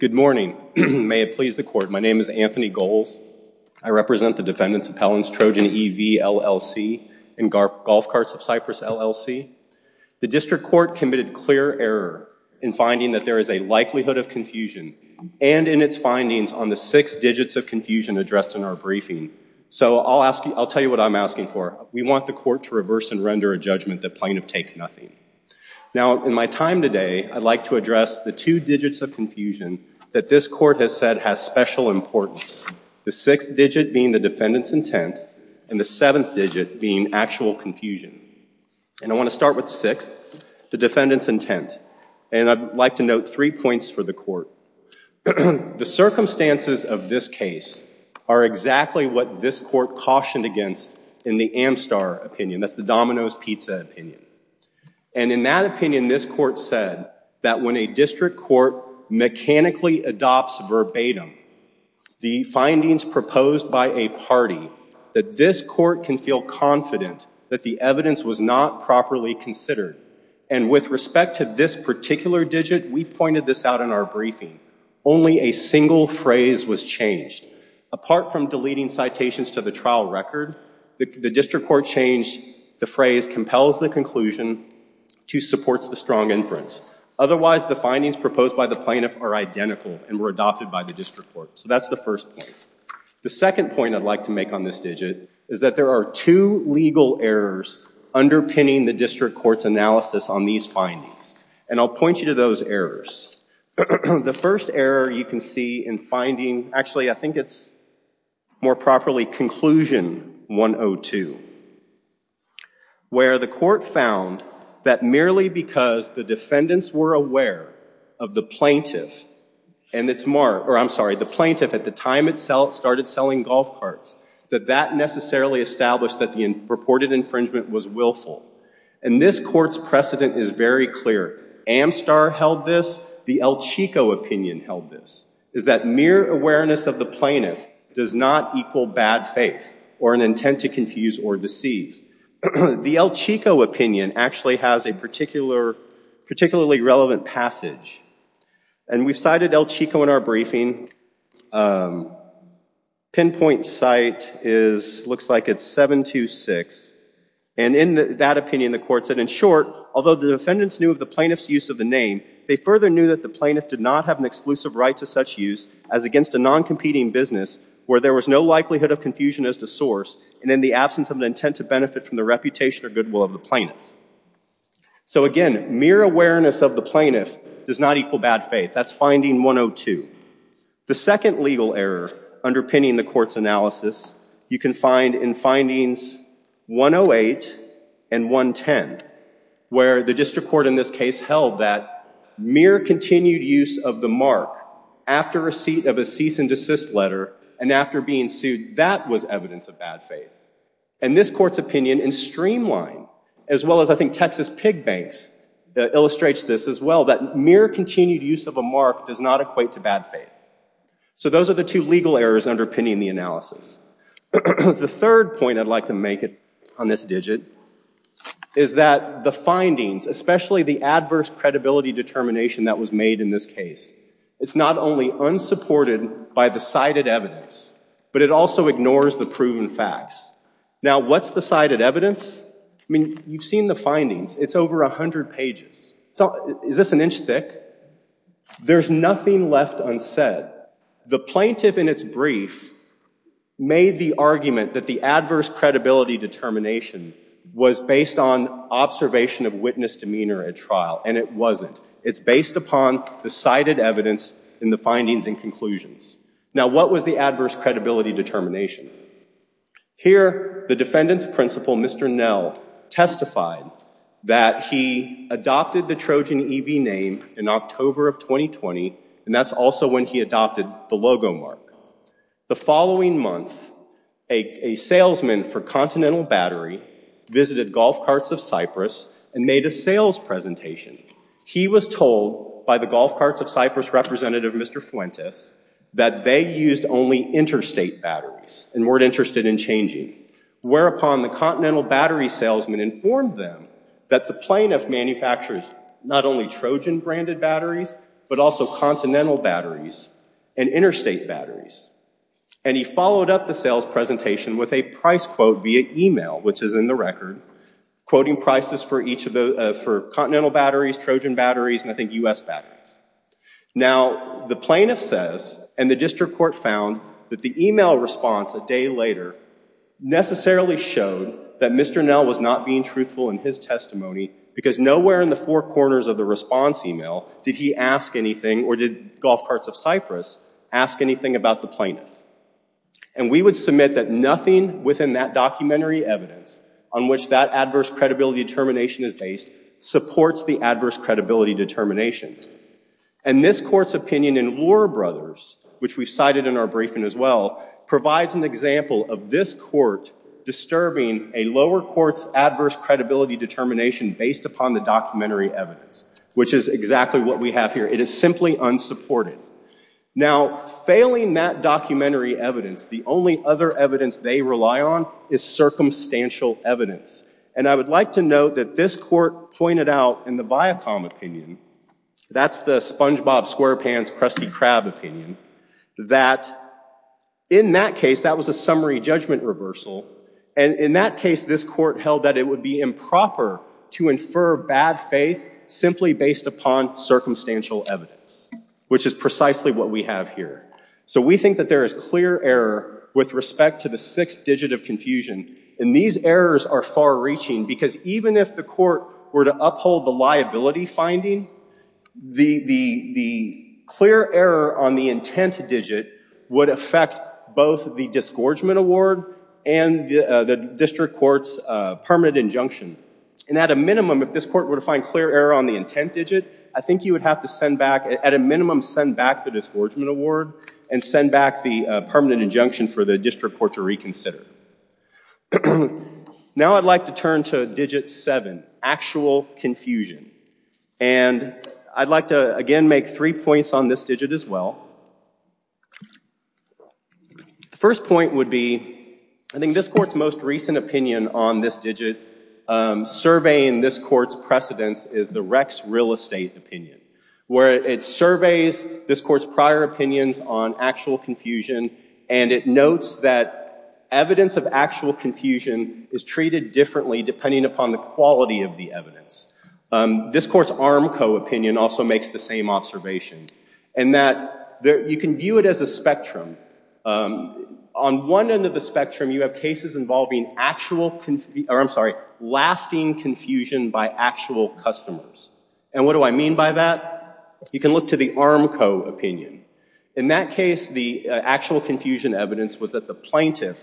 Good morning. May it please the court, my name is Anthony Goles. I represent the defendants of Helen's Trojan E.V. LLC and Golf Carts of Cypress LLC. The district court committed clear error in finding that there is a likelihood of confusion and in its findings on the six digits of confusion addressed in our briefing. So I'll tell you what I'm asking for. We want the court to reverse and render a judgment that plain of take nothing. Now in my time today I'd like to address the two digits of confusion that this court has said has special importance. The six digit being the defendants' intent and the seventh digit being actual confusion. And I want to start with sixth, the defendants' intent. And I'd like to note three points for the court. The circumstances of this case are exactly what this court cautioned against in the Amstar opinion, that's the Domino's Pizza opinion. And in that opinion this court said that when a district court mechanically adopts verbatim the findings proposed by a party that this court can feel confident that the evidence was not properly considered. And with respect to this particular digit we pointed this out in our briefing, only a single phrase was changed. Apart from deleting citations to the trial record, the district court changed the phrase compels the conclusion to supports the strong inference. Otherwise the findings proposed by the plaintiff are identical and were adopted by the district court. So that's the first point. The second point I'd like to make on this digit is that there are two legal errors underpinning the district court's analysis on these findings. And I'll point you to those errors. The first error you can see in finding, actually I think it's more properly conclusion 102, where the court found that merely because the defendants were aware of the plaintiff and it's the plaintiff at the time it started selling golf carts, that that necessarily established that the purported infringement was willful. And this court's precedent is very clear. Amstar held this, the El Chico opinion held this, is that mere awareness of the plaintiff does not equal bad faith or an intent to confuse or deceive. The El Chico opinion actually has a particularly relevant passage. And we've cited El Chico in our briefing. Pinpoint site is, looks like it's 726. And in that opinion the court said, in short, although the defendants knew of the plaintiff's use of the name, they further knew that the plaintiff did not have an exclusive right to such use as against a non-competing business where there was no likelihood of confusion as to source and in the absence of an intent to benefit from the reputation or goodwill of the plaintiff. So again, mere awareness of the plaintiff does not equal bad faith. That's finding 102. The second legal error underpinning the court's analysis you can find in findings 108 and 110, where the district court in this case held that mere continued use of the mark after receipt of a cease and desist letter and after being sued, that was evidence of bad faith. And this court's opinion in streamline, as well as I think Texas Pig Banks illustrates this as well, that mere continued use of a mark does not equate to bad faith. So those are the two legal errors underpinning the analysis. The third point I'd like to make it on this digit is that the findings, especially the adverse credibility determination that was made in this case, it's not only unsupported by the cited evidence, but it also ignores the proven facts. Now what's the cited evidence? I mean, you've seen the findings. It's over a hundred pages. So is this an inch thick? There's nothing left unsaid. The plaintiff in its brief made the argument that the adverse credibility determination was based on observation of witness demeanor at trial, and it wasn't. It's based upon the cited evidence in the findings and conclusions. Now what was the adverse credibility determination? Here the defendant's principal, Mr. Nell, testified that he adopted the Trojan EV name in October of 2020, and that's also when he adopted the logo mark. The following month, a salesman for Continental Battery visited Golf Carts of Cyprus and made a sales presentation. He was told by the Golf Carts of Cyprus representative, Mr. Fuentes, that they used only interstate batteries and weren't interested in changing, whereupon the Continental Battery salesman informed them that the plaintiff manufactures not only Trojan branded batteries, but also Continental batteries and interstate batteries, and he followed up the sales presentation with a price quote via email, which is in the record, quoting prices for each of the, for Continental batteries, Trojan batteries, and I think US batteries. Now the plaintiff says, and the district court found, that the email response a day later necessarily showed that Mr. Nell was not being truthful in his testimony, because nowhere in the four corners of the response email did he ask anything, or did Golf Carts of Cyprus ask anything about the plaintiff, and we would submit that nothing within that documentary evidence on which that adverse credibility determination is based, supports the adverse credibility determination, and this court's opinion in Lohr Brothers, which we cited in our briefing as well, provides an example of this court disturbing a lower court's adverse credibility determination based upon the documentary evidence, which is exactly what we have here. It is simply unsupported. Now, failing that documentary evidence, the only other evidence they rely on is circumstantial evidence, and I would like to note that this court pointed out in the Viacom opinion, that's the Spongebob Squarepants Krusty Krab opinion, that in that case that was a summary judgment reversal, and in that case this court held that it would be improper to infer bad faith simply based upon circumstantial evidence, which is precisely what we have here. So we think that there is clear error with respect to the sixth digit of confusion, and these errors are far-reaching, because even if the court were to uphold the liability finding, the clear error on the intent digit would affect both the disgorgement award and the district court's permanent injunction, and at a minimum, if this court were to find clear error on the intent digit, I think you would have to send back, at a minimum, send back the disgorgement award and send back the permanent injunction for the district court to reconsider. Now I'd like to turn to digit 7, actual confusion, and I'd like to again make three points on this digit as well. The first point would be, I think this court's most recent opinion on this digit, surveying this court's precedence is the Rex real estate opinion, where it surveys this court's prior opinions on actual confusion, and it notes that evidence of actual confusion is treated differently depending upon the quality of the evidence. This court's Armco opinion also makes the same observation, and that you can view it as a spectrum. On one end of the spectrum, you have cases involving actual, I'm sorry, lasting confusion by actual customers, and what do I mean by that? You can look to the Armco opinion. In that case, the actual confusion evidence was that the plaintiff,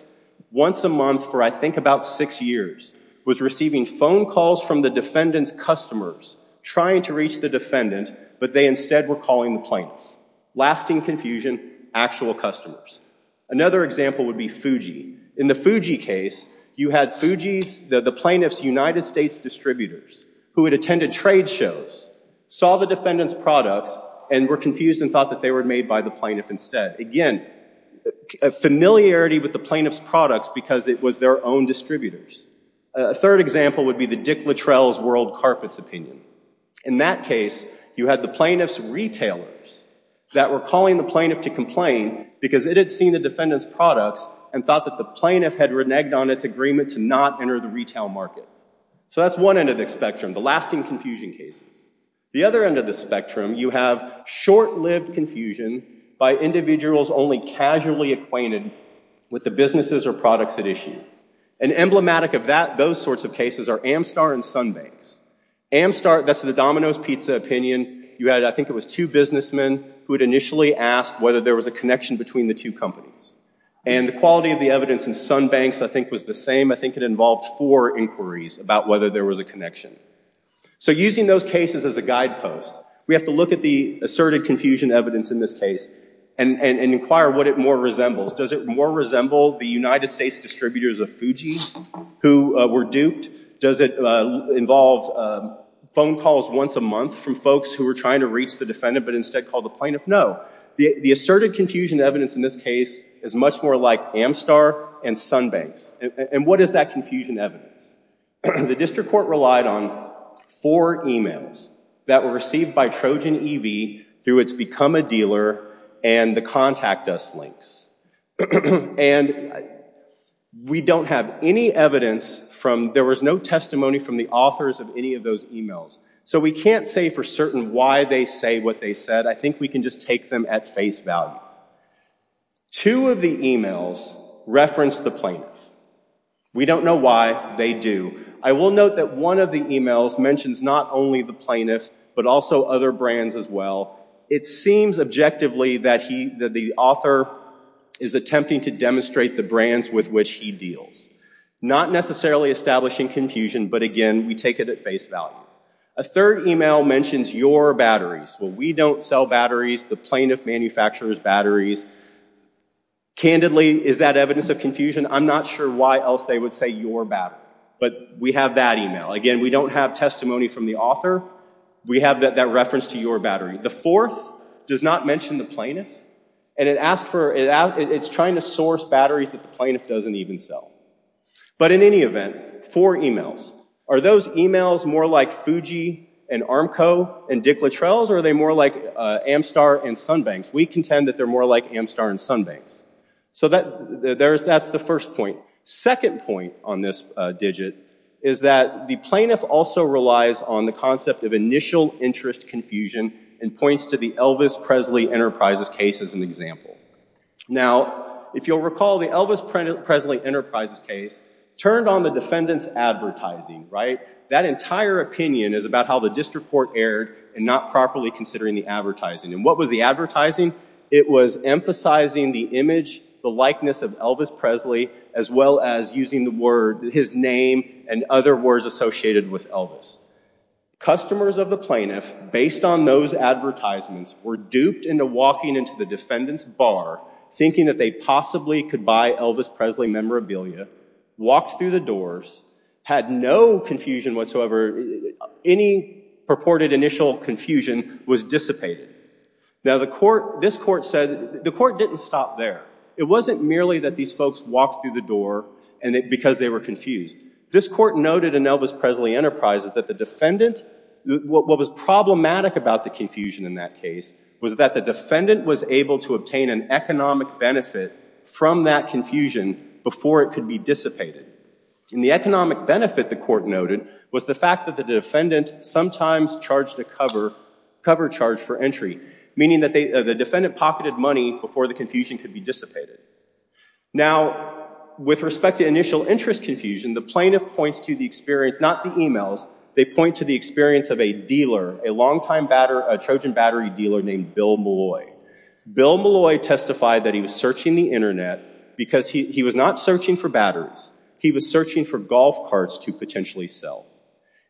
once a month for I think about six years, was receiving phone calls from the defendant's customers trying to reach the defendant, but they instead were calling the plaintiff. Lasting confusion, actual customers. Another example would be Fuji. In the Fuji case, you had Fuji's, the plaintiff's United States distributors, who had attended trade shows, saw the defendant's products, and were confused and thought that they were made by the plaintiff instead. Again, a familiarity with the plaintiff's products because it was their own distributors. A third example would be the Dick Littrell's World Carpets opinion. In that case, you had the plaintiff's retailers that were calling the plaintiff to complain because it had seen the defendant's products and thought that the plaintiff had reneged on its agreement to not enter the retail market. So that's one end of the spectrum, the lasting confusion cases. The other end of the spectrum, you have short-lived confusion by individuals only casually acquainted with the businesses or products at issue. And emblematic of that, those sorts of cases, are Amstar and Sunbanks. Amstar, that's the Domino's Pizza opinion, you had, I think it was two businessmen who had initially asked whether there was a connection between the two companies. And the quality of the evidence in Sunbanks, I think, was the same. I think it involved four inquiries about whether there was a connection. So using those cases as a guidepost, we have to look at the asserted confusion evidence in this case and inquire what it more resembles. Does it more resemble the United States distributors of Fuji who were duped? Does it involve phone calls once a month from folks who were trying to reach the defendant but instead called the plaintiff? No. The asserted confusion evidence in this case is much more like Amstar and Sunbanks. And what is that confusion evidence? The district court relied on four emails that were received by Trojan EV through its Become a Dealer and the Contact Us links. And we don't have any evidence from, there was no testimony from the authors of any of those emails. So we can't say for certain why they say what they said. I think we can just take them at face value. Two of the emails reference the plaintiffs. We don't know why they do. I will note that one of the emails mentions not only the plaintiffs but also other brands as well. It seems objectively that the author is attempting to demonstrate the brands with which he deals. Not necessarily establishing confusion, but again we take it at face value. A third email mentions your batteries. Well we don't sell batteries. The plaintiff manufactures batteries. Candidly, is that evidence of confusion? I'm not sure why else they would say your battery. But we have that email. Again we don't have testimony from the author. We have that reference to your battery. The fourth does not mention the plaintiff and it asked for, it's trying to source batteries that the plaintiff doesn't even sell. But in any event, four emails. Are those emails more like Fuji and Armco and Dick Littrell's or are they more like Amstar and Sunbanks? We contend that they're more like Amstar and Sunbanks. So that there's that's the first point. Second point on this digit is that the plaintiff also relies on the concept of initial interest confusion and points to the Elvis Presley Enterprises case as an example. Now if you'll recall the Elvis Presley Enterprises case turned on the defendants advertising, right? That entire opinion is about how the district court erred and not properly considering the advertising. And what was the advertising? It was emphasizing the image, the likeness of Elvis Presley as well as using the word, his name and other words associated with Elvis. Customers of the plaintiff, based on those advertisements, were duped into walking into the defendants bar thinking that they possibly could buy Elvis Presley memorabilia, walked through the doors, had no confusion whatsoever, any purported initial confusion was dissipated. Now the court, this court said, the court didn't stop there. It wasn't merely that these folks walked through the door and because they were confused. This court noted in Elvis Presley Enterprises that the defendant, what was problematic about the confusion in that case, was that the defendant was able to obtain an economic benefit from that confusion before it could be dissipated. And the economic benefit, the court noted, was the fact that the defendant sometimes charged a cover charge for entry, meaning that the defendant pocketed money before the confusion could be dissipated. Now, with respect to initial interest confusion, the plaintiff points to the experience, not the emails, they point to the experience of a dealer, a longtime Trojan battery dealer named Bill Molloy. Bill Molloy testified that he was searching the internet because he was not searching for batteries, he was searching for golf carts to potentially sell.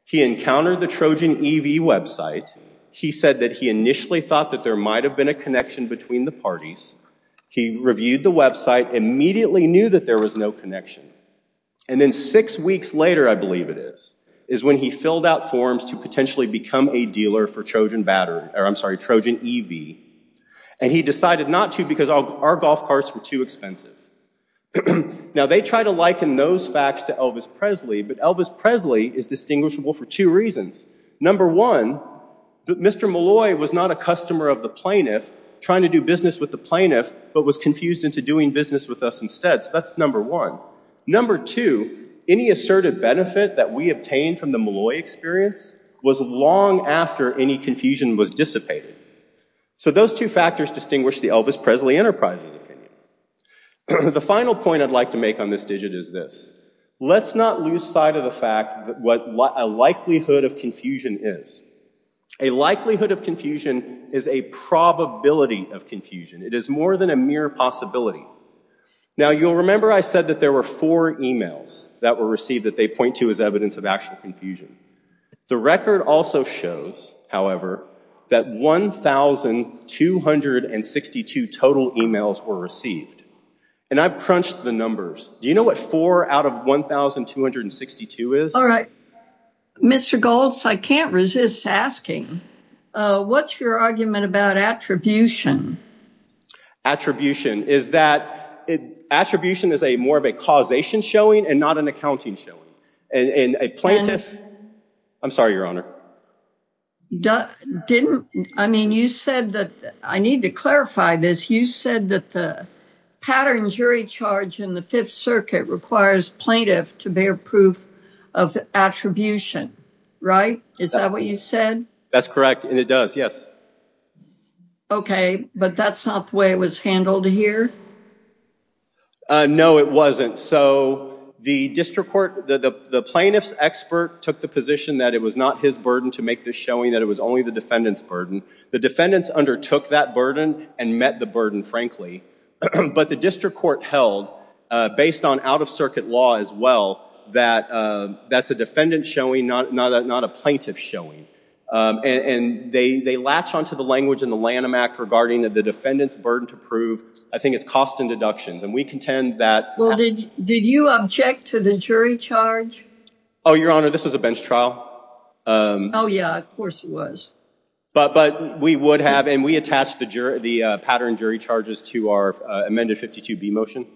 He encountered the Trojan EV website. He said that he initially thought that there might have been a connection between the parties. He reviewed the website, immediately knew that there was no connection. And then six weeks later, I believe it is, is when he filled out forms to potentially become a dealer for Trojan battery, or I'm And he decided not to because our golf carts were too expensive. Now, they try to liken those facts to Elvis Presley, but Elvis Presley is distinguishable for two reasons. Number one, Mr. Molloy was not a customer of the plaintiff, trying to do business with the plaintiff, but was confused into doing business with us instead. So that's number one. Number two, any assertive benefit that we obtained from the Molloy experience was long after any confusion was dissipated. So those two factors distinguish the Elvis Presley Enterprises opinion. The final point I'd like to make on this digit is this. Let's not lose sight of the fact that what a likelihood of confusion is. A likelihood of confusion is a probability of confusion. It is more than a mere possibility. Now, you'll remember I said that there were four emails that were received that they point to as evidence of actual confusion. The record also shows, however, that 1,262 total emails were received, and I've crunched the numbers. Do you know what four out of 1,262 is? All right. Mr. Goltz, I can't resist asking, what's your argument about attribution? Attribution is that attribution is a more of a causation showing and not an accounting showing. And a plaintiff... I'm sorry, Your Honor. Didn't... I mean, you said that... I need to clarify this. You said that the pattern jury charge in the Fifth Circuit requires plaintiff to bear proof of attribution, right? Is that what you said? That's correct, and it does, yes. Okay, but that's not the way it was handled here? No, it wasn't. So, the district court... the plaintiff's expert took the position that it was not his burden to make this showing, that it was only the defendant's burden. The defendants undertook that burden and met the burden, frankly, but the district court held, based on out-of- circuit law as well, that that's a defendant showing, not a plaintiff showing. And they latch on to the language in the Lanham Act regarding that the defendant's burden to prove, I think it's cost and deductions, and we contend that... Well, did you object to the jury charge? Oh, Your Honor, this was a bench trial. Oh, yeah, of course it was. But we would have, and we attached the jury... the pattern jury charges to our amended 52B motion.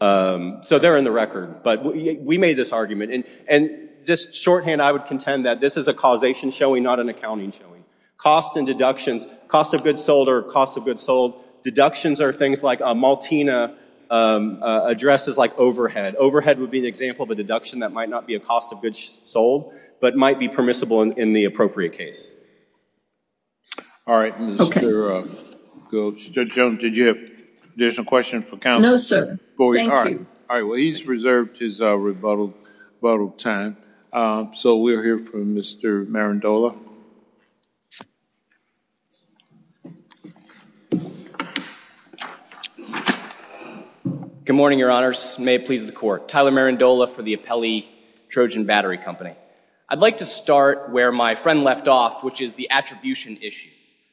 So, they're in the record, but we made this argument. And just shorthand, I would contend that this is a causation showing, not an accounting showing. Cost and deductions, cost of sold or cost of goods sold, deductions are things like a Maltina addresses like overhead. Overhead would be an example of a deduction that might not be a cost of goods sold, but might be permissible in the appropriate case. All right, Mr. Goetz. Judge Jones, did you have additional questions for counsel? No, sir. All right, well, he's reserved his rebuttal time. So, we'll hear from Mr. Marindola. Good morning, Your Honors. May it please the Court. Tyler Marindola for the Appellee Trojan Battery Company. I'd like to start where my friend left off, which is the attribution issue.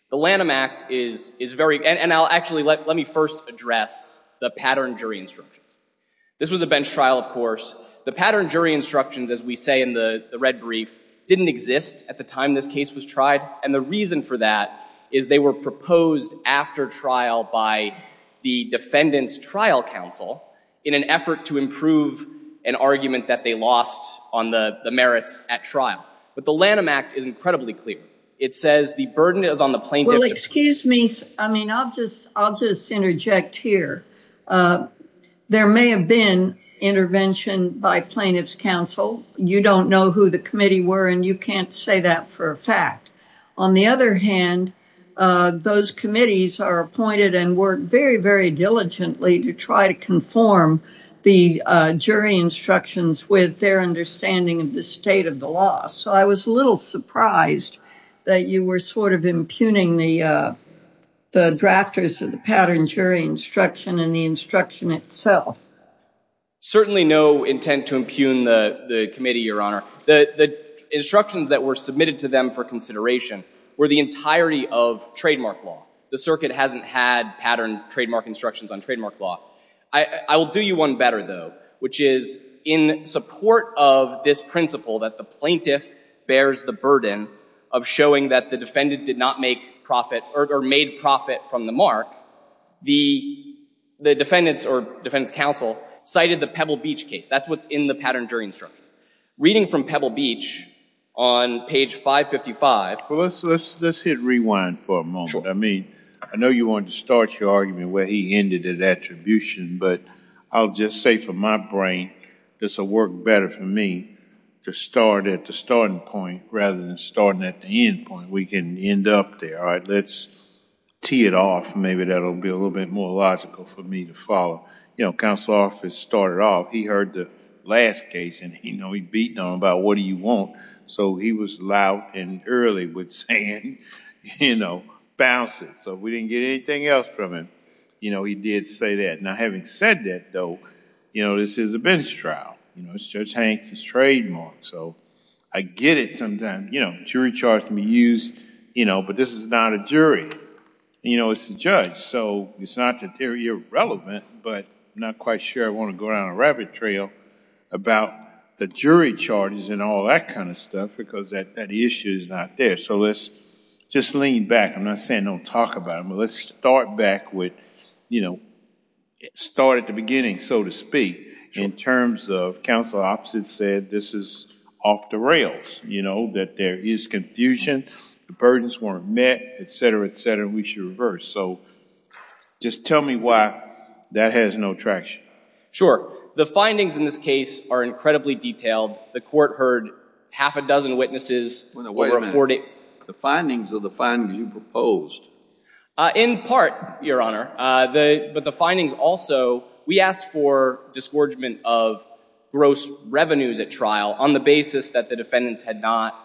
The Lanham Act is very... and I'll actually... let me first address the pattern jury instructions. This was a bench trial, of course. The pattern jury instructions, as we say in the red brief, didn't exist at the time this case was tried. And the reason for that is they were proposed after trial by the defendant's trial counsel in an effort to improve an argument that they lost on the merits at trial. But the Lanham Act is incredibly clear. It says the burden is on the plaintiff... Well, excuse me. I mean, I'll just... I'll just interject here. There may have been intervention by plaintiff's counsel. You don't know who the committee were, and you can't say that for a fact. On the other hand, those committees are appointed and work very, very diligently to try to conform the jury instructions with their understanding of the state of the law. So, I was a little surprised that you were sort of impugning the drafters of the pattern jury instruction and the instruction itself. Certainly no intent to impugn the... the committee, Your Honor. The... the instructions that were submitted to them for consideration were the entirety of trademark law. The circuit hasn't had pattern trademark instructions on trademark law. I... I will do you one better, though, which is in support of this principle that the plaintiff bears the burden of showing that the defendant did not make profit or made profit from the mark. The... the defendants or defense counsel cited the Pebble Beach case. That's what's in the pattern jury instruction. Reading from Pebble Beach on page 555... Well, let's... let's... let's hit rewind for a moment. I mean, I know you wanted to start your argument where he ended at attribution, but I'll just say for my brain, this will work better for me to start at the starting point rather than starting at the end point. We can end up there, all right? Let's tee it off. Maybe that'll be a little bit more logical for me to follow. You know, counsel office started off, he heard the last case and he... you know, he beat on about what do you want, so he was loud and early with saying, you know, bouncing. So we didn't get anything else from him. You know, he did say that. Now, having said that, though, you know, this is a bench trial. You know, it's Judge Hanks' trademark, so I get it sometimes. You know, jury charge can be used, you know, but this is not a jury. You know, it's a judge, so it's not that they're irrelevant, but I'm not quite sure I want to go down a rabbit trail about the jury charges and all that kind of stuff because that issue is not there. So let's just lean back. I'm not saying don't talk about it, but let's start back with, you know, start at the beginning, so to Sure. The findings in this case are incredibly detailed. The court heard half a dozen witnesses... Wait a minute. The findings of the findings you proposed? In part, Your Honor, but the findings also, we asked for disgorgement of gross revenues at on the basis that the defendants had not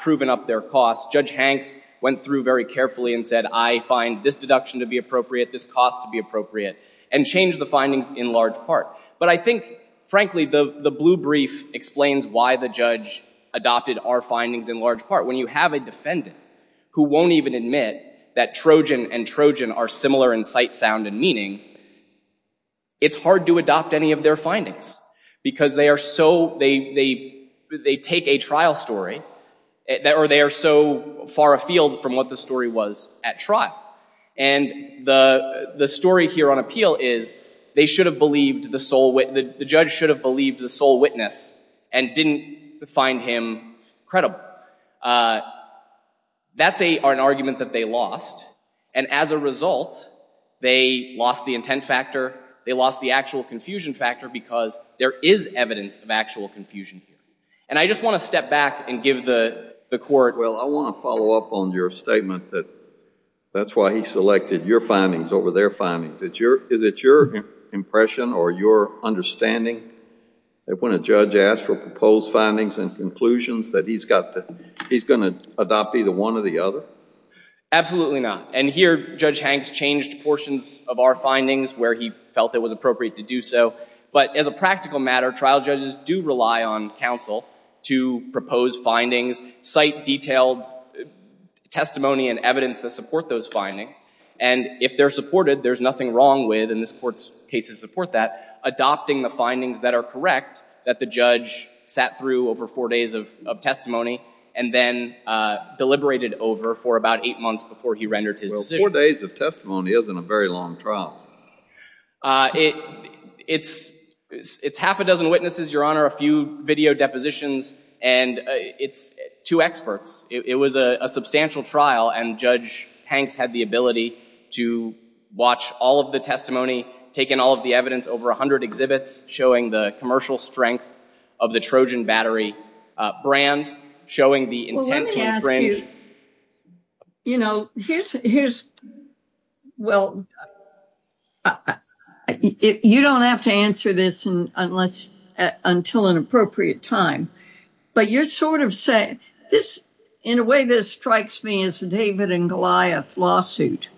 proven up their costs. Judge Hanks went through very carefully and said, I find this deduction to be appropriate, this cost to be appropriate, and changed the findings in large part. But I think, frankly, the blue brief explains why the judge adopted our findings in large part. When you have a defendant who won't even admit that Trojan and Trojan are similar in sight, sound, and meaning, it's hard to adopt any of their because they are so, they take a trial story, or they are so far afield from what the story was at trial. And the story here on appeal is they should have believed the sole, the judge should have believed the sole witness and didn't find him credible. That's an argument that they lost, and as a result, they lost the intent factor, they lost the actual confusion factor because there is evidence of actual confusion here. And I just want to step back and give the court. Well, I want to follow up on your statement that that's why he selected your findings over their findings. Is it your impression or your understanding that when a judge asks for proposed findings and conclusions that he's going to adopt either one or the other? Absolutely not. And here, Judge Hanks changed portions of our findings where he felt it was appropriate to do so. But as a practical matter, trial judges do rely on counsel to propose findings, cite detailed testimony and evidence that support those findings. And if they're supported, there's nothing wrong with, and this Court's cases support that, adopting the findings that are correct that the judge sat through over four days of testimony and then deliberated over for about eight months before he rendered his decision. Well, four days of testimony isn't a very long trial. It's half a dozen witnesses, Your Honor, a few video depositions, and it's two experts. It was a substantial trial, and Judge Hanks had the ability to watch all of the testimony, take in all of the evidence, over 100 exhibits showing the commercial strength of the Trojan Battery brand, showing the intent to infringe. Well, let me ask you, you know, here's, well, you don't have to answer this until an appropriate time, but you're sort of saying, this, in a way, this strikes me as a David and Goliath lawsuit.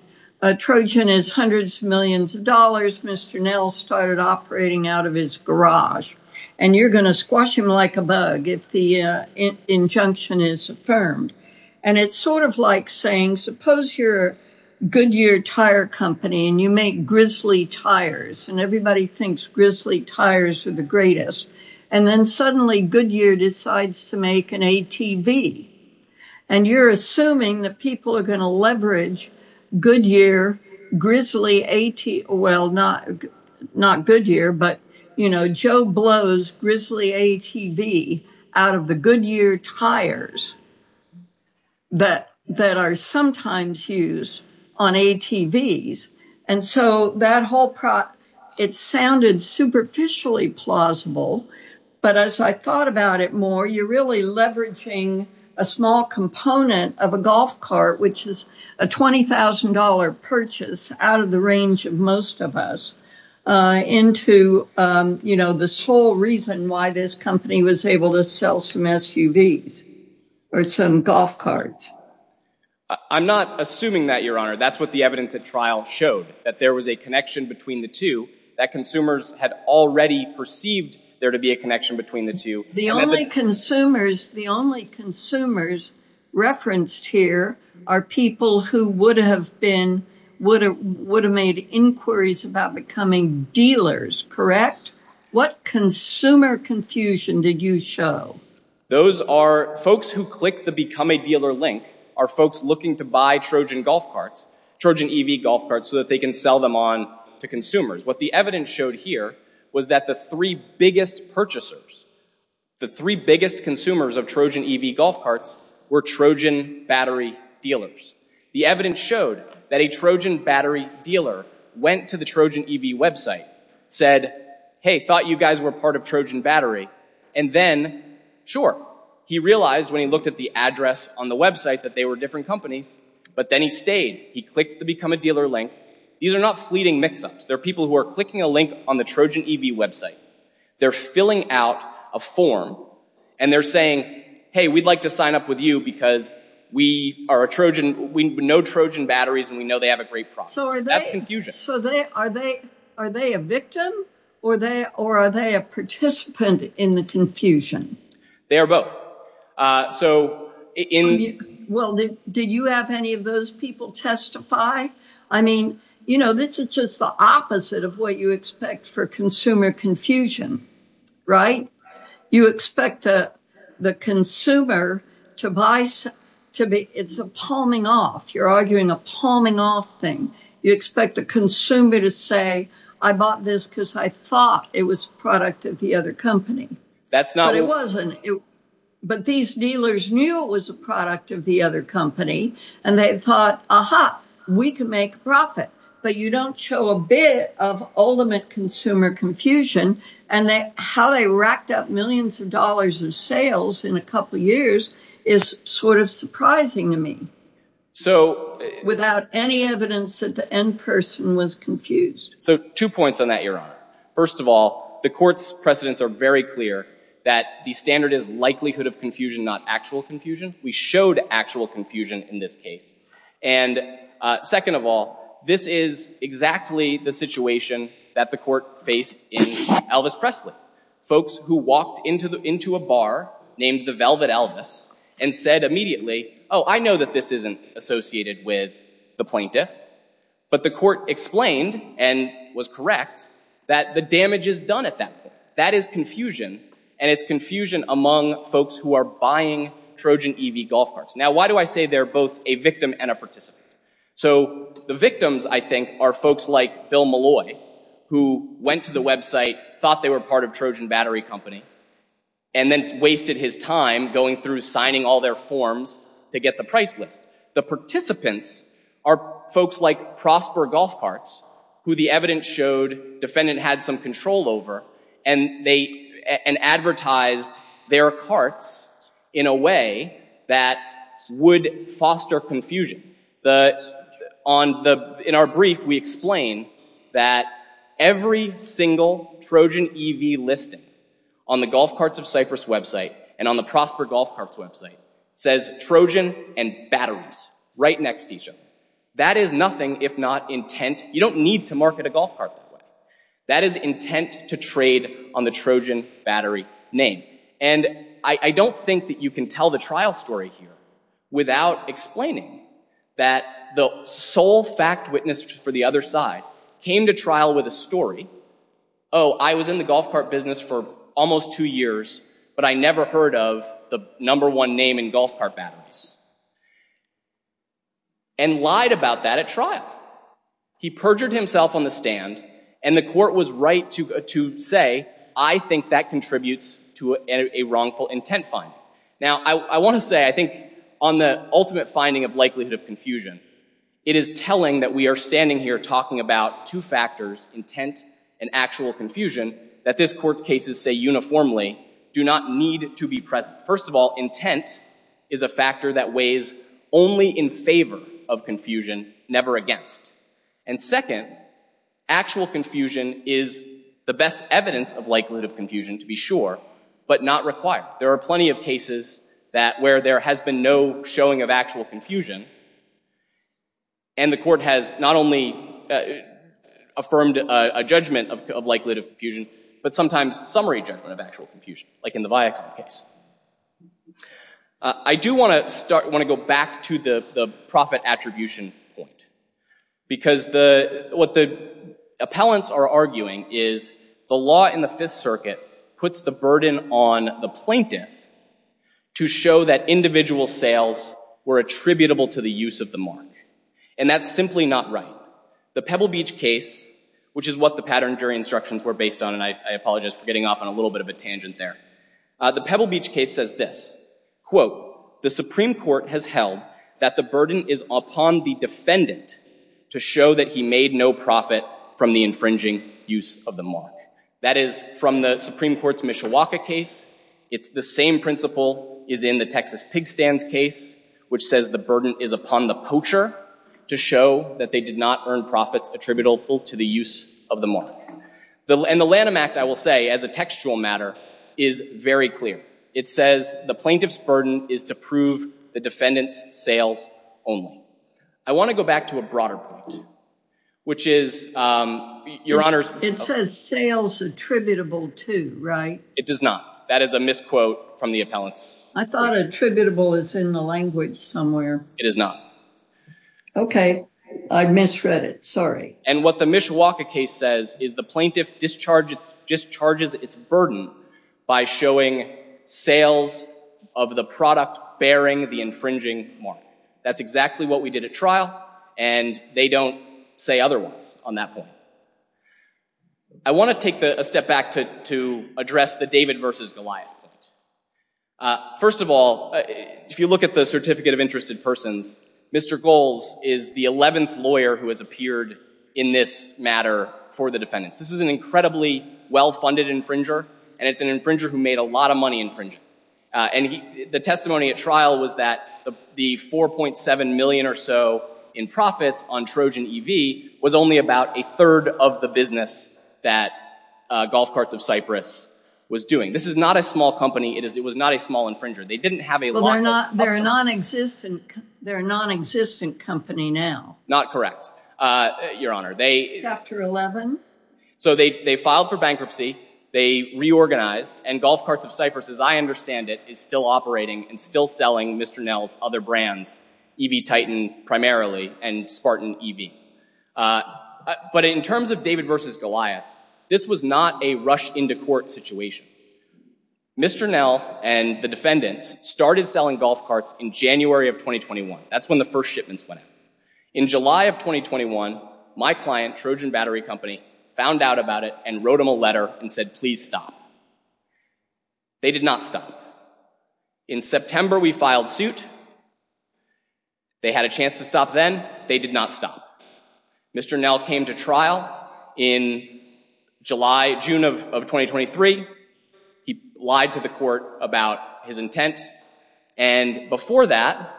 A Trojan is hundreds of millions of dollars. Mr. Nell started operating out of his garage, and you're going to squash him like a bug. The injunction is affirmed, and it's sort of like saying, suppose you're a Goodyear tire company, and you make grizzly tires, and everybody thinks grizzly tires are the greatest, and then suddenly Goodyear decides to make an ATV, and you're assuming that people are going to leverage Goodyear grizzly, well, not Goodyear, but, you know, Joe blows grizzly ATV out of the Goodyear tires that are sometimes used on ATVs, and so that whole, it sounded superficially plausible, but as I thought about it more, you're really leveraging a small component of a golf cart, which is a $20,000 purchase out of the range of most of us into, you know, the sole reason why this company was able to sell some SUVs or some golf carts. I'm not assuming that, Your Honor. That's what the evidence at trial showed, that there was a connection between the two, that consumers had already perceived there to be a connection between the two. The only consumers, the only consumers referenced here are people who would have been, would have made inquiries about becoming dealers, correct? What consumer confusion did you show? Those are folks who click the Become a Dealer link are folks looking to buy Trojan golf carts, Trojan EV golf carts, so that they can sell them on to consumers. What the evidence showed here was that the three biggest purchasers, the three biggest consumers of Trojan EV golf carts were Trojan battery dealers. The evidence showed that a Trojan battery dealer went to the Trojan EV website, said, hey, thought you guys were part of Trojan battery, and then, sure, he realized when he looked at the address on the website that they were different companies, but then he stayed. He clicked the Become a Dealer link. These are not fleeting mix-ups. They're people who are clicking a link on the Trojan EV website. They're filling out a form, and they're saying, hey, we'd like to sign up with you because we are a Trojan, we know Trojan batteries, and we know they have a great profit. That's confusion. So are they a victim, or are they a participant in the confusion? They are both. So in... Well, did you have any of those people testify? I mean, you know, this is the opposite of what you expect for consumer confusion, right? You expect the consumer to buy... It's a palming off. You're arguing a palming off thing. You expect the consumer to say, I bought this because I thought it was a product of the other company. But it wasn't. But these dealers knew it was a product of the other company, and they thought, aha, we can make a profit, but you don't show a bit of ultimate consumer confusion. And how they racked up millions of dollars in sales in a couple years is sort of surprising to me, without any evidence that the end person was confused. So two points on that, Your Honor. First of all, the Court's precedents are very clear that the standard is likelihood of confusion, not actual confusion. We showed actual confusion in this case. And second of all, this is exactly the situation that the Court faced in Elvis Presley. Folks who walked into a bar named the Velvet Elvis and said immediately, oh, I know that this isn't associated with the plaintiff, but the Court explained and was correct that the damage is done at that point. That is confusion, and it's confusion among folks who are Trojan EV golf carts. Now, why do I say they're both a victim and a participant? So the victims, I think, are folks like Bill Malloy, who went to the website, thought they were part of Trojan Battery Company, and then wasted his time going through signing all their forms to get the price list. The participants are folks like Prosper Golf Carts, who the evidence showed defendant had some control over and advertised their carts in a way that would foster confusion. In our brief, we explain that every single Trojan EV listing on the Golf Carts of Cyprus website and on the Prosper Golf Carts website says Trojan and Batteries right next to each other. That is if not intent. You don't need to market a golf cart that way. That is intent to trade on the Trojan Battery name. And I don't think that you can tell the trial story here without explaining that the sole fact witness for the other side came to trial with a story, oh, I was in the golf cart business for almost two years, but I never heard of the number one name in golf cart batteries, and lied about that at trial. He perjured himself on the stand, and the court was right to say, I think that contributes to a wrongful intent finding. Now, I want to say, I think, on the ultimate finding of likelihood of confusion, it is telling that we are standing here talking about two factors, intent and actual confusion, that this court's cases say uniformly do not need to be present. First of all, intent is a factor that weighs only in favor of confusion, never against. And second, actual confusion is the best evidence of likelihood of confusion, to be sure, but not required. There are plenty of cases that where there has been no showing of actual confusion, and the court has not only affirmed a judgment of likelihood of confusion, but sometimes summary judgment of actual confusion, like in the Viacom case. I do want to go back to the profit attribution point, because what the appellants are arguing is the law in the Fifth Circuit puts the burden on the plaintiff to show that individual sales were attributable to the use of the mark. And that's simply not right. The Pebble Beach case, which is what the pattern jury instructions were based on, and I apologize for getting off on a little bit of a tangent there, the Pebble Beach case says this, quote, the Supreme Court has held that the burden is upon the defendant to show that he made no profit from the infringing use of the mark. That is from the Supreme Court's Mishawaka case. It's the same principle is in the Texas Pig Stands case, which says the burden is upon the poacher to show that they did not earn profits attributable to the use of the mark. And the Lanham Act, I will say, as a textual matter, is very clear. It says the plaintiff's burden is to prove the defendant's sales only. I want to go back to a broader point, which is, Your Honor, it says sales attributable to, right? It does not. That is a misquote from the appellants. I thought attributable is in the language somewhere. It is not. Okay, I misread it, and what the Mishawaka case says is the plaintiff discharges its burden by showing sales of the product bearing the infringing mark. That's exactly what we did at trial, and they don't say otherwise on that point. I want to take a step back to address the David versus Goliath point. First of all, if you look at the Certificate of Interested Persons, Mr. Goles is the 11th lawyer who has appeared in this matter for the defendants. This is an incredibly well-funded infringer, and it's an infringer who made a lot of money infringing. The testimony at trial was that the $4.7 million or so in profits on Trojan EV was only about a third of the business that Golf Carts of Cyprus was doing. This is not a small company. It was a small infringer. They didn't have a lot of customers. They're a non-existent company now. Not correct, Your Honor. Chapter 11. So they filed for bankruptcy. They reorganized, and Golf Carts of Cyprus, as I understand it, is still operating and still selling Mr. Nell's other brands, EV Titan primarily and Spartan EV. But in terms of David versus Goliath, this was not a rush into court situation. Mr. Nell and the defendants started selling Golf Carts in January of 2021. That's when the first shipments went out. In July of 2021, my client, Trojan Battery Company, found out about it and wrote him a letter and said, please stop. They did not stop. In September, we filed suit. They had a chance to stop then. They did not stop. Mr. Nell came to trial in June of 2023. He lied to the court about his intent. And before that,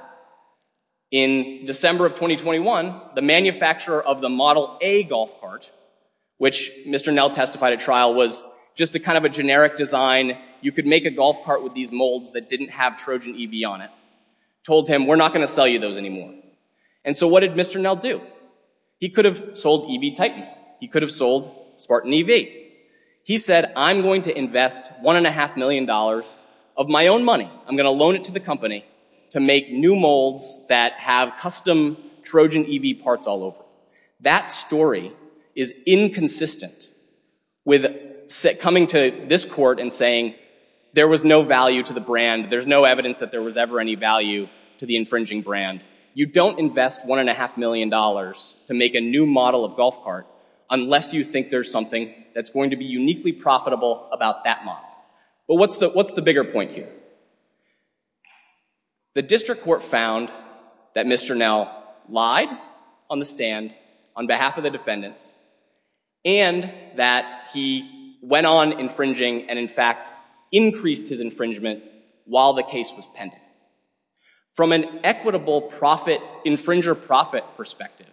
in December of 2021, the manufacturer of the Model A Golf Cart, which Mr. Nell testified at trial, was just a kind of a generic design. You could make a golf cart with these molds that didn't have Trojan EV on it. Told him, we're not going to sell you those anymore. And so what did Mr. Nell do? He could have sold EV Titan. He could have sold Spartan EV. He said, I'm going to invest one and a half million dollars of my own money. I'm going to loan it to the company to make new molds that have custom Trojan EV parts all over. That story is inconsistent with coming to this court and saying there was no value to the brand. There's no evidence that there was ever any value to the infringing brand. You don't invest one and a half million dollars to make a new model of golf cart unless you think there's something that's going to be uniquely profitable about that model. But what's the bigger point here? The district court found that Mr. Nell lied on the stand on behalf of the defendants and that he went on infringing and, in fact, increased his infringement while the case was pending. From an equitable profit, infringer profit perspective,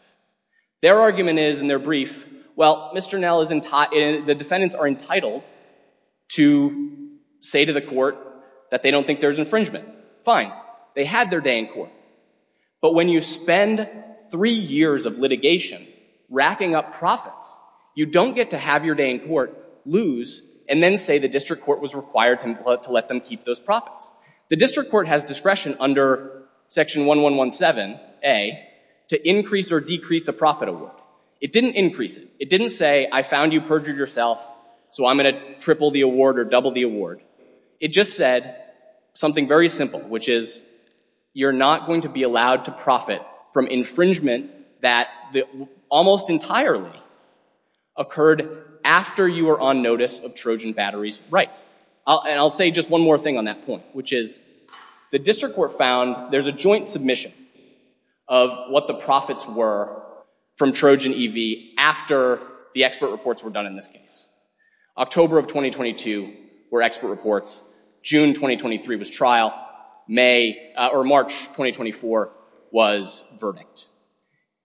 their argument is in their brief, well, Mr. Nell is, the defendants are entitled to say to the court that they don't think there's infringement. Fine. They had their day in court. But when you spend three years of litigation racking up profits, you don't get to have your day in court, lose, and then say the district court was required to let them keep those profits. The district court has discretion under section 1117A to increase or decrease a profit award. It didn't increase it. It didn't say I found you perjured yourself, so I'm going to triple the award or double the award. It just said something very simple, which is you're not going to be allowed to profit from infringement that almost entirely occurred after you were on notice of Trojan Battery's rights. And I'll say just one more thing on that point, which is the district court found there's a joint submission of what the profits were from Trojan EV after the expert reports were done in this case. October of 2022 were expert reports. June 2023 was trial. May or March 2024 was verdict.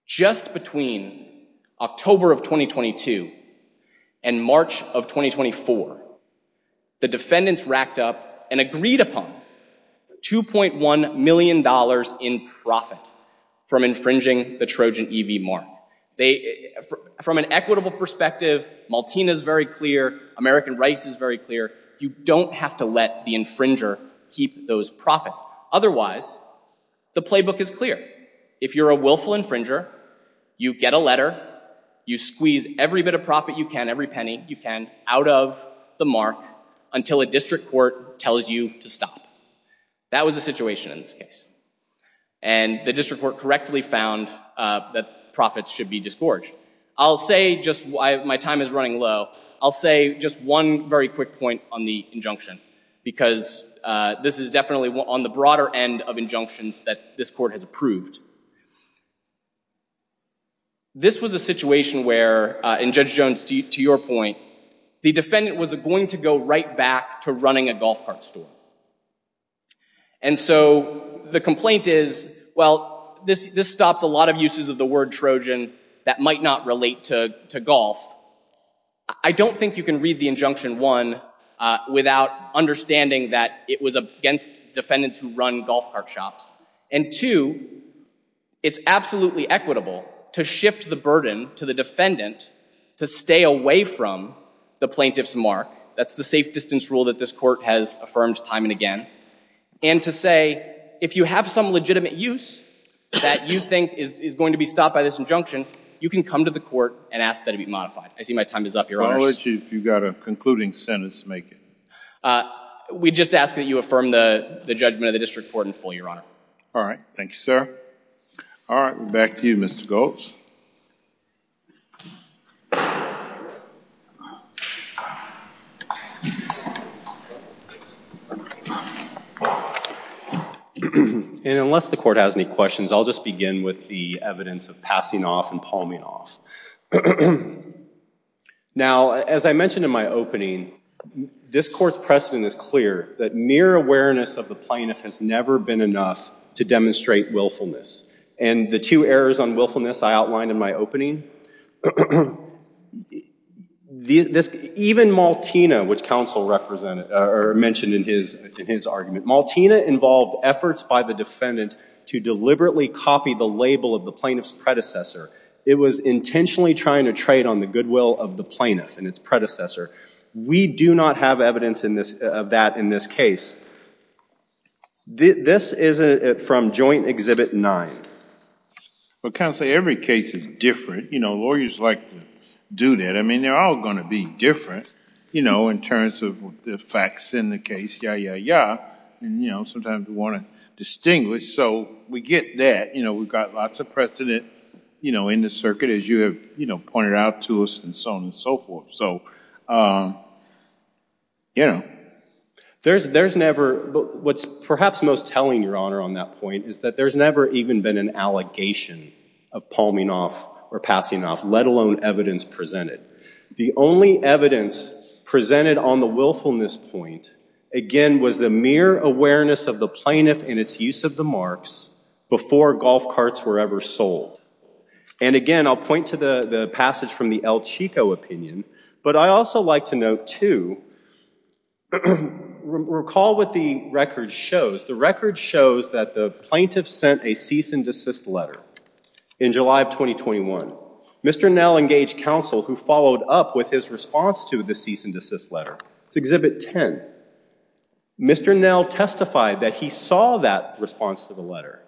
Just between October of 2022 and March of 2024, the defendants racked up and agreed upon $2.1 million in profit from infringing the Trojan EV mark. From an equitable perspective, Maltina is very clear. American Rice is very clear. You don't have to let the infringer keep those profits. Otherwise, the playbook is clear. If you're a willful infringer, you get a letter. You squeeze every bit of profit you can, every penny you can, out of the mark until a district court tells you to stop. That was a situation in this case. And the district court correctly found that profits should be disgorged. I'll say just why my time is running low. I'll say just one very quick point on the injunction, because this is definitely on the broader end of injunctions that this court has approved. This was a situation where, and Judge Jones, to your point, the defendant was going to go right back to running a golf cart store. And so the complaint is, well, this stops a lot of uses of the word Trojan that might not relate to golf. I don't think you can read the injunction, one, without understanding that it was against defendants who run golf cart shops. And two, it's absolutely equitable to shift the burden to the defendant to stay away from the plaintiff's mark. That's the safe distance rule that this court has affirmed time and again. And to say, if you have some legitimate use that you think is going to be stopped by this injunction, you can come to the court and ask that it be modified. I see my time is up, Your Honor. Well, I'll let you, if you've got a concluding sentence, make it. We just ask that you affirm the judgment of the district court in full, Your Honor. All right. Thank you, sir. All right. Back to you, Mr. Goltz. And unless the court has any questions, I'll just begin with the evidence of passing off and palming off. Now, as I mentioned in my opening, this court's precedent is clear that mere awareness of the plaintiff has never been enough to demonstrate willfulness. And the two errors on willfulness I outlined in my opening, even Maltina, which counsel mentioned in his argument, Maltina involved efforts by the defendant to deliberately copy the label of the plaintiff's predecessor. It was intentionally trying to trade on the goodwill of the plaintiff and its predecessor. We do not have evidence of that in this case. This is from Joint Exhibit 9. Well, counsel, every case is different. Lawyers like to do that. I mean, they're all going to be different in terms of the facts in the case. Yeah, yeah, yeah. And sometimes we want to distinguish. So we get that. We've got lots of precedent in the circuit, as you have pointed out to us, and so on and so forth. So yeah. What's perhaps most telling, Your Honor, on that point is that there's never even been an allegation of palming off or passing off, let alone evidence presented. The only evidence presented on the willfulness point, again, was the mere awareness of the plaintiff and its use of the marks before golf carts were ever sold. And again, I'll point to the passage from the El Chico opinion, but I also like to note, too, recall what the record shows. The record shows that the plaintiff sent a cease and desist letter in July of 2021. Mr. Nell engaged counsel who followed up with his response to the cease and desist letter. It's Exhibit 10. Mr. Nell testified that he saw that response to the letter.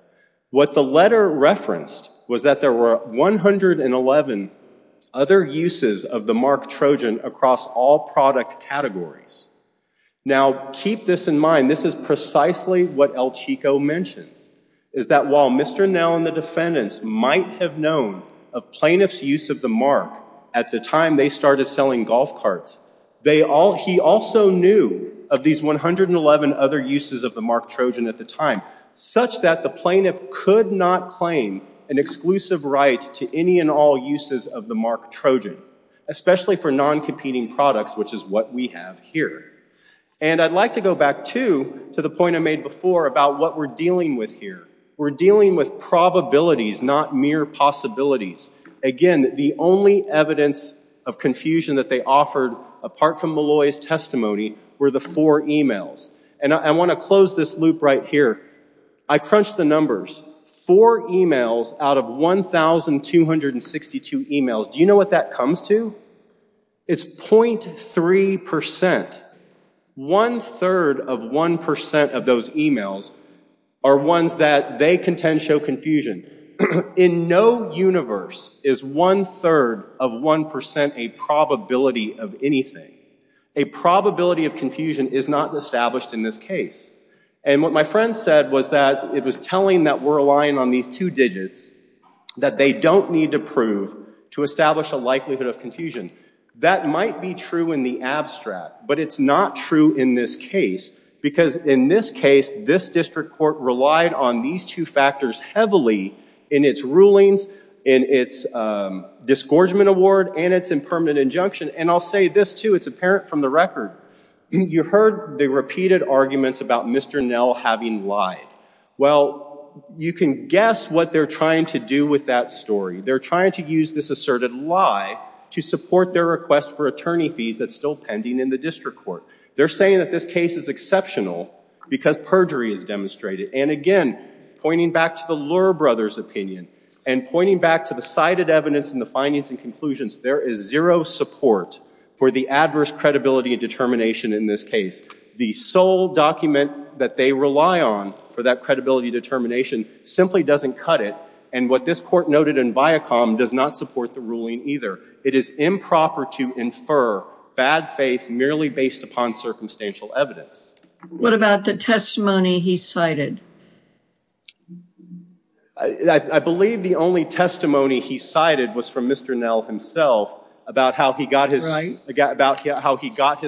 What the letter referenced was that there were 111 other uses of the mark Trojan across all product categories. Now, keep this in mind. This is precisely what El Chico mentions, is that while Mr. Nell and the defendants might have known of plaintiff's use of the mark at the time they started selling golf carts, he also knew of these 111 other uses of the mark Trojan at the time, such that the plaintiff could not claim an exclusive right to any and all uses of the mark Trojan, especially for non-competing products, which is what we have here. And I'd like to go back, too, to the point I made before about what we're dealing with here. We're dealing with probabilities, not mere possibilities. Again, the only evidence of confusion that they offered, apart from Malloy's testimony, were the four emails. And I want to close this loop right here. I crunched the numbers. Four emails out of 1,262 emails. Do you know what that comes to? It's 0.3%. One-third of 1% of those emails are ones that they contend show confusion. In no universe is one-third of 1% a probability of anything. A probability of confusion is not established in this case. And what my friend said was that it was telling that we're relying on these two digits that they don't need to prove to establish a likelihood of confusion. That might be true in the abstract, but it's not true in this case. Because in this case, this district court relied on these two factors heavily in its rulings, in its disgorgement award, and its impermanent injunction. And I'll say this, too. It's apparent from the record. You heard the repeated arguments about Mr. Nell having lied. Well, you can guess what they're trying to do with that story. They're trying to use this asserted lie to support their request for attorney fees that's still pending in the district court. They're saying that this case is exceptional because perjury is demonstrated. And again, pointing back to the Lurr brothers' opinion, and pointing back to the cited evidence in the findings and conclusions, there is zero support for the adverse credibility and determination in this case. The sole document that they rely on for that credibility determination simply doesn't cut it. And what this court noted in Viacom does not support the ruling either. It is improper to infer bad faith merely based upon circumstantial evidence. What about the testimony he cited? I believe the only testimony he cited was from Mr. Nell himself about how he got his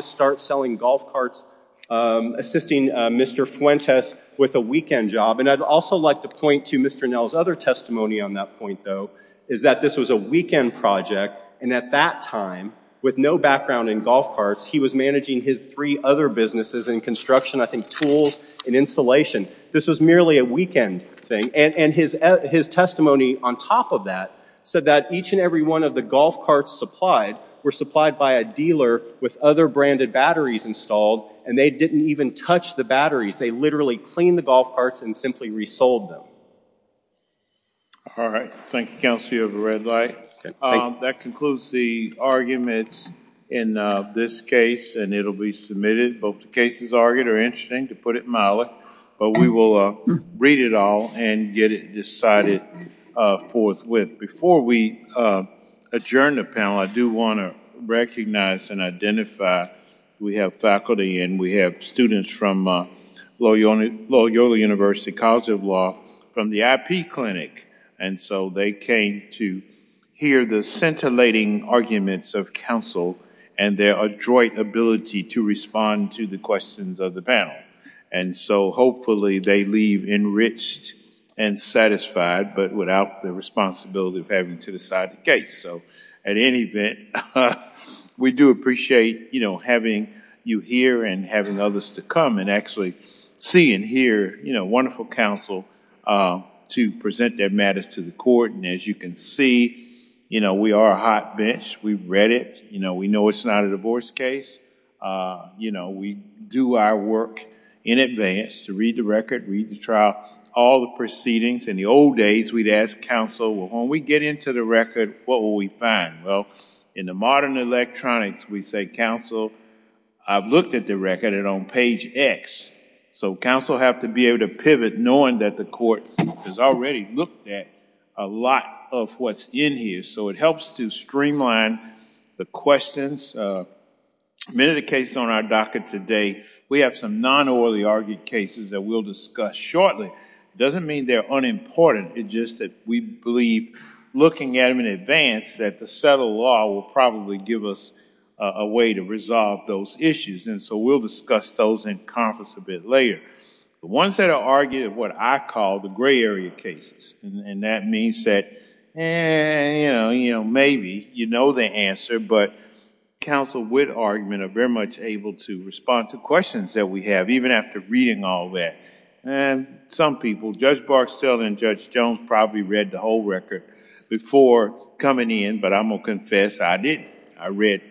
start selling golf carts, assisting Mr. Fuentes with a weekend job. And I'd also like to point to Mr. Nell's other testimony on that point, though, is that this was a weekend project. And at that time, with no background in golf carts, he was managing his three other businesses in construction, I think tools and insulation. This was merely a weekend thing. And his testimony on top of that said that each and every one of the golf carts supplied were supplied by a dealer with other branded batteries installed, and they didn't even touch the batteries. They literally cleaned the golf carts and simply resold them. All right. Thank you, Counselor. You have a red light. That concludes the arguments in this case, and it'll be submitted. Both the cases argued are interesting, to put it mildly, but we will read it all and get it decided forthwith. Before we adjourn the panel, I do want to recognize and identify we have faculty and we have students from Loyola University College of Law from the IP Clinic. And so they came to hear the scintillating arguments of counsel and their adroit ability to respond to the questions of the panel. And so hopefully they leave enriched and satisfied, but without the responsibility of having to decide the case. So at any event, we do appreciate having you here and having others to come and actually see and hear wonderful counsel to present their matters to the court. And as you can see, we are a hot bench. We've read it. We know it's not a divorce case. We do our work in advance to read the record, read the trial, all the proceedings. In the old days, we'd ask counsel, well, when we get into the record, what will we find? Well, in the modern electronics, we say, counsel, I've looked at the record and on page X. So counsel have to be able to pivot knowing that the court has already looked at a lot of what's in here. So it helps to streamline the questions. Many of the cases on our docket today, we have some non-orally argued cases that we'll discuss shortly. It doesn't mean they're unimportant. It's just that we believe, looking at them in advance, that the settled law will probably give us a way to resolve those issues. And so we'll discuss those in conference a bit later. The ones that are argued are what I call the gray area cases. And that means that maybe you know the answer, but counsel with argument are very much able to respond to questions that we have, even after reading all that. And some people, Judge Barksdale and Judge Jones probably read the whole record before coming in. But I'm going to confess, I didn't. I read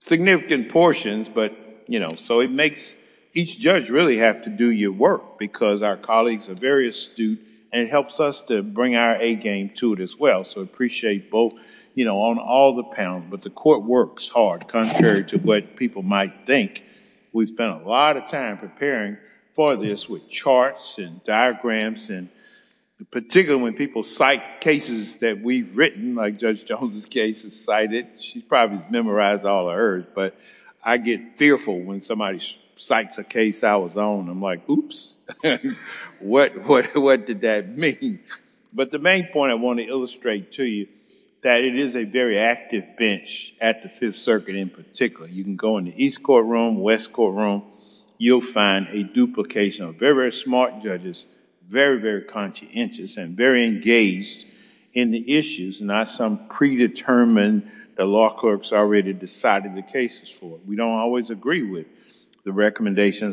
significant portions. So it makes each judge really have to do your work because our colleagues are very astute. And it helps us to bring our A-game to it as well. So I appreciate both, you know, on all the panel. But the court works hard, contrary to what people might think. We've spent a lot of time preparing for this with charts and diagrams. And particularly when people cite cases that we've written, like Judge Jones's case is probably memorized all of hers. But I get fearful when somebody cites a case I was on. I'm like, oops. What did that mean? But the main point I want to illustrate to you that it is a very active bench at the Fifth Circuit in particular. You can go in the East Court room, West Court room, you'll find a duplication of very, very smart judges, very, very conscientious and very engaged in the issues, not some predetermined, the law clerks already decided the cases for. We don't always agree with the recommendations.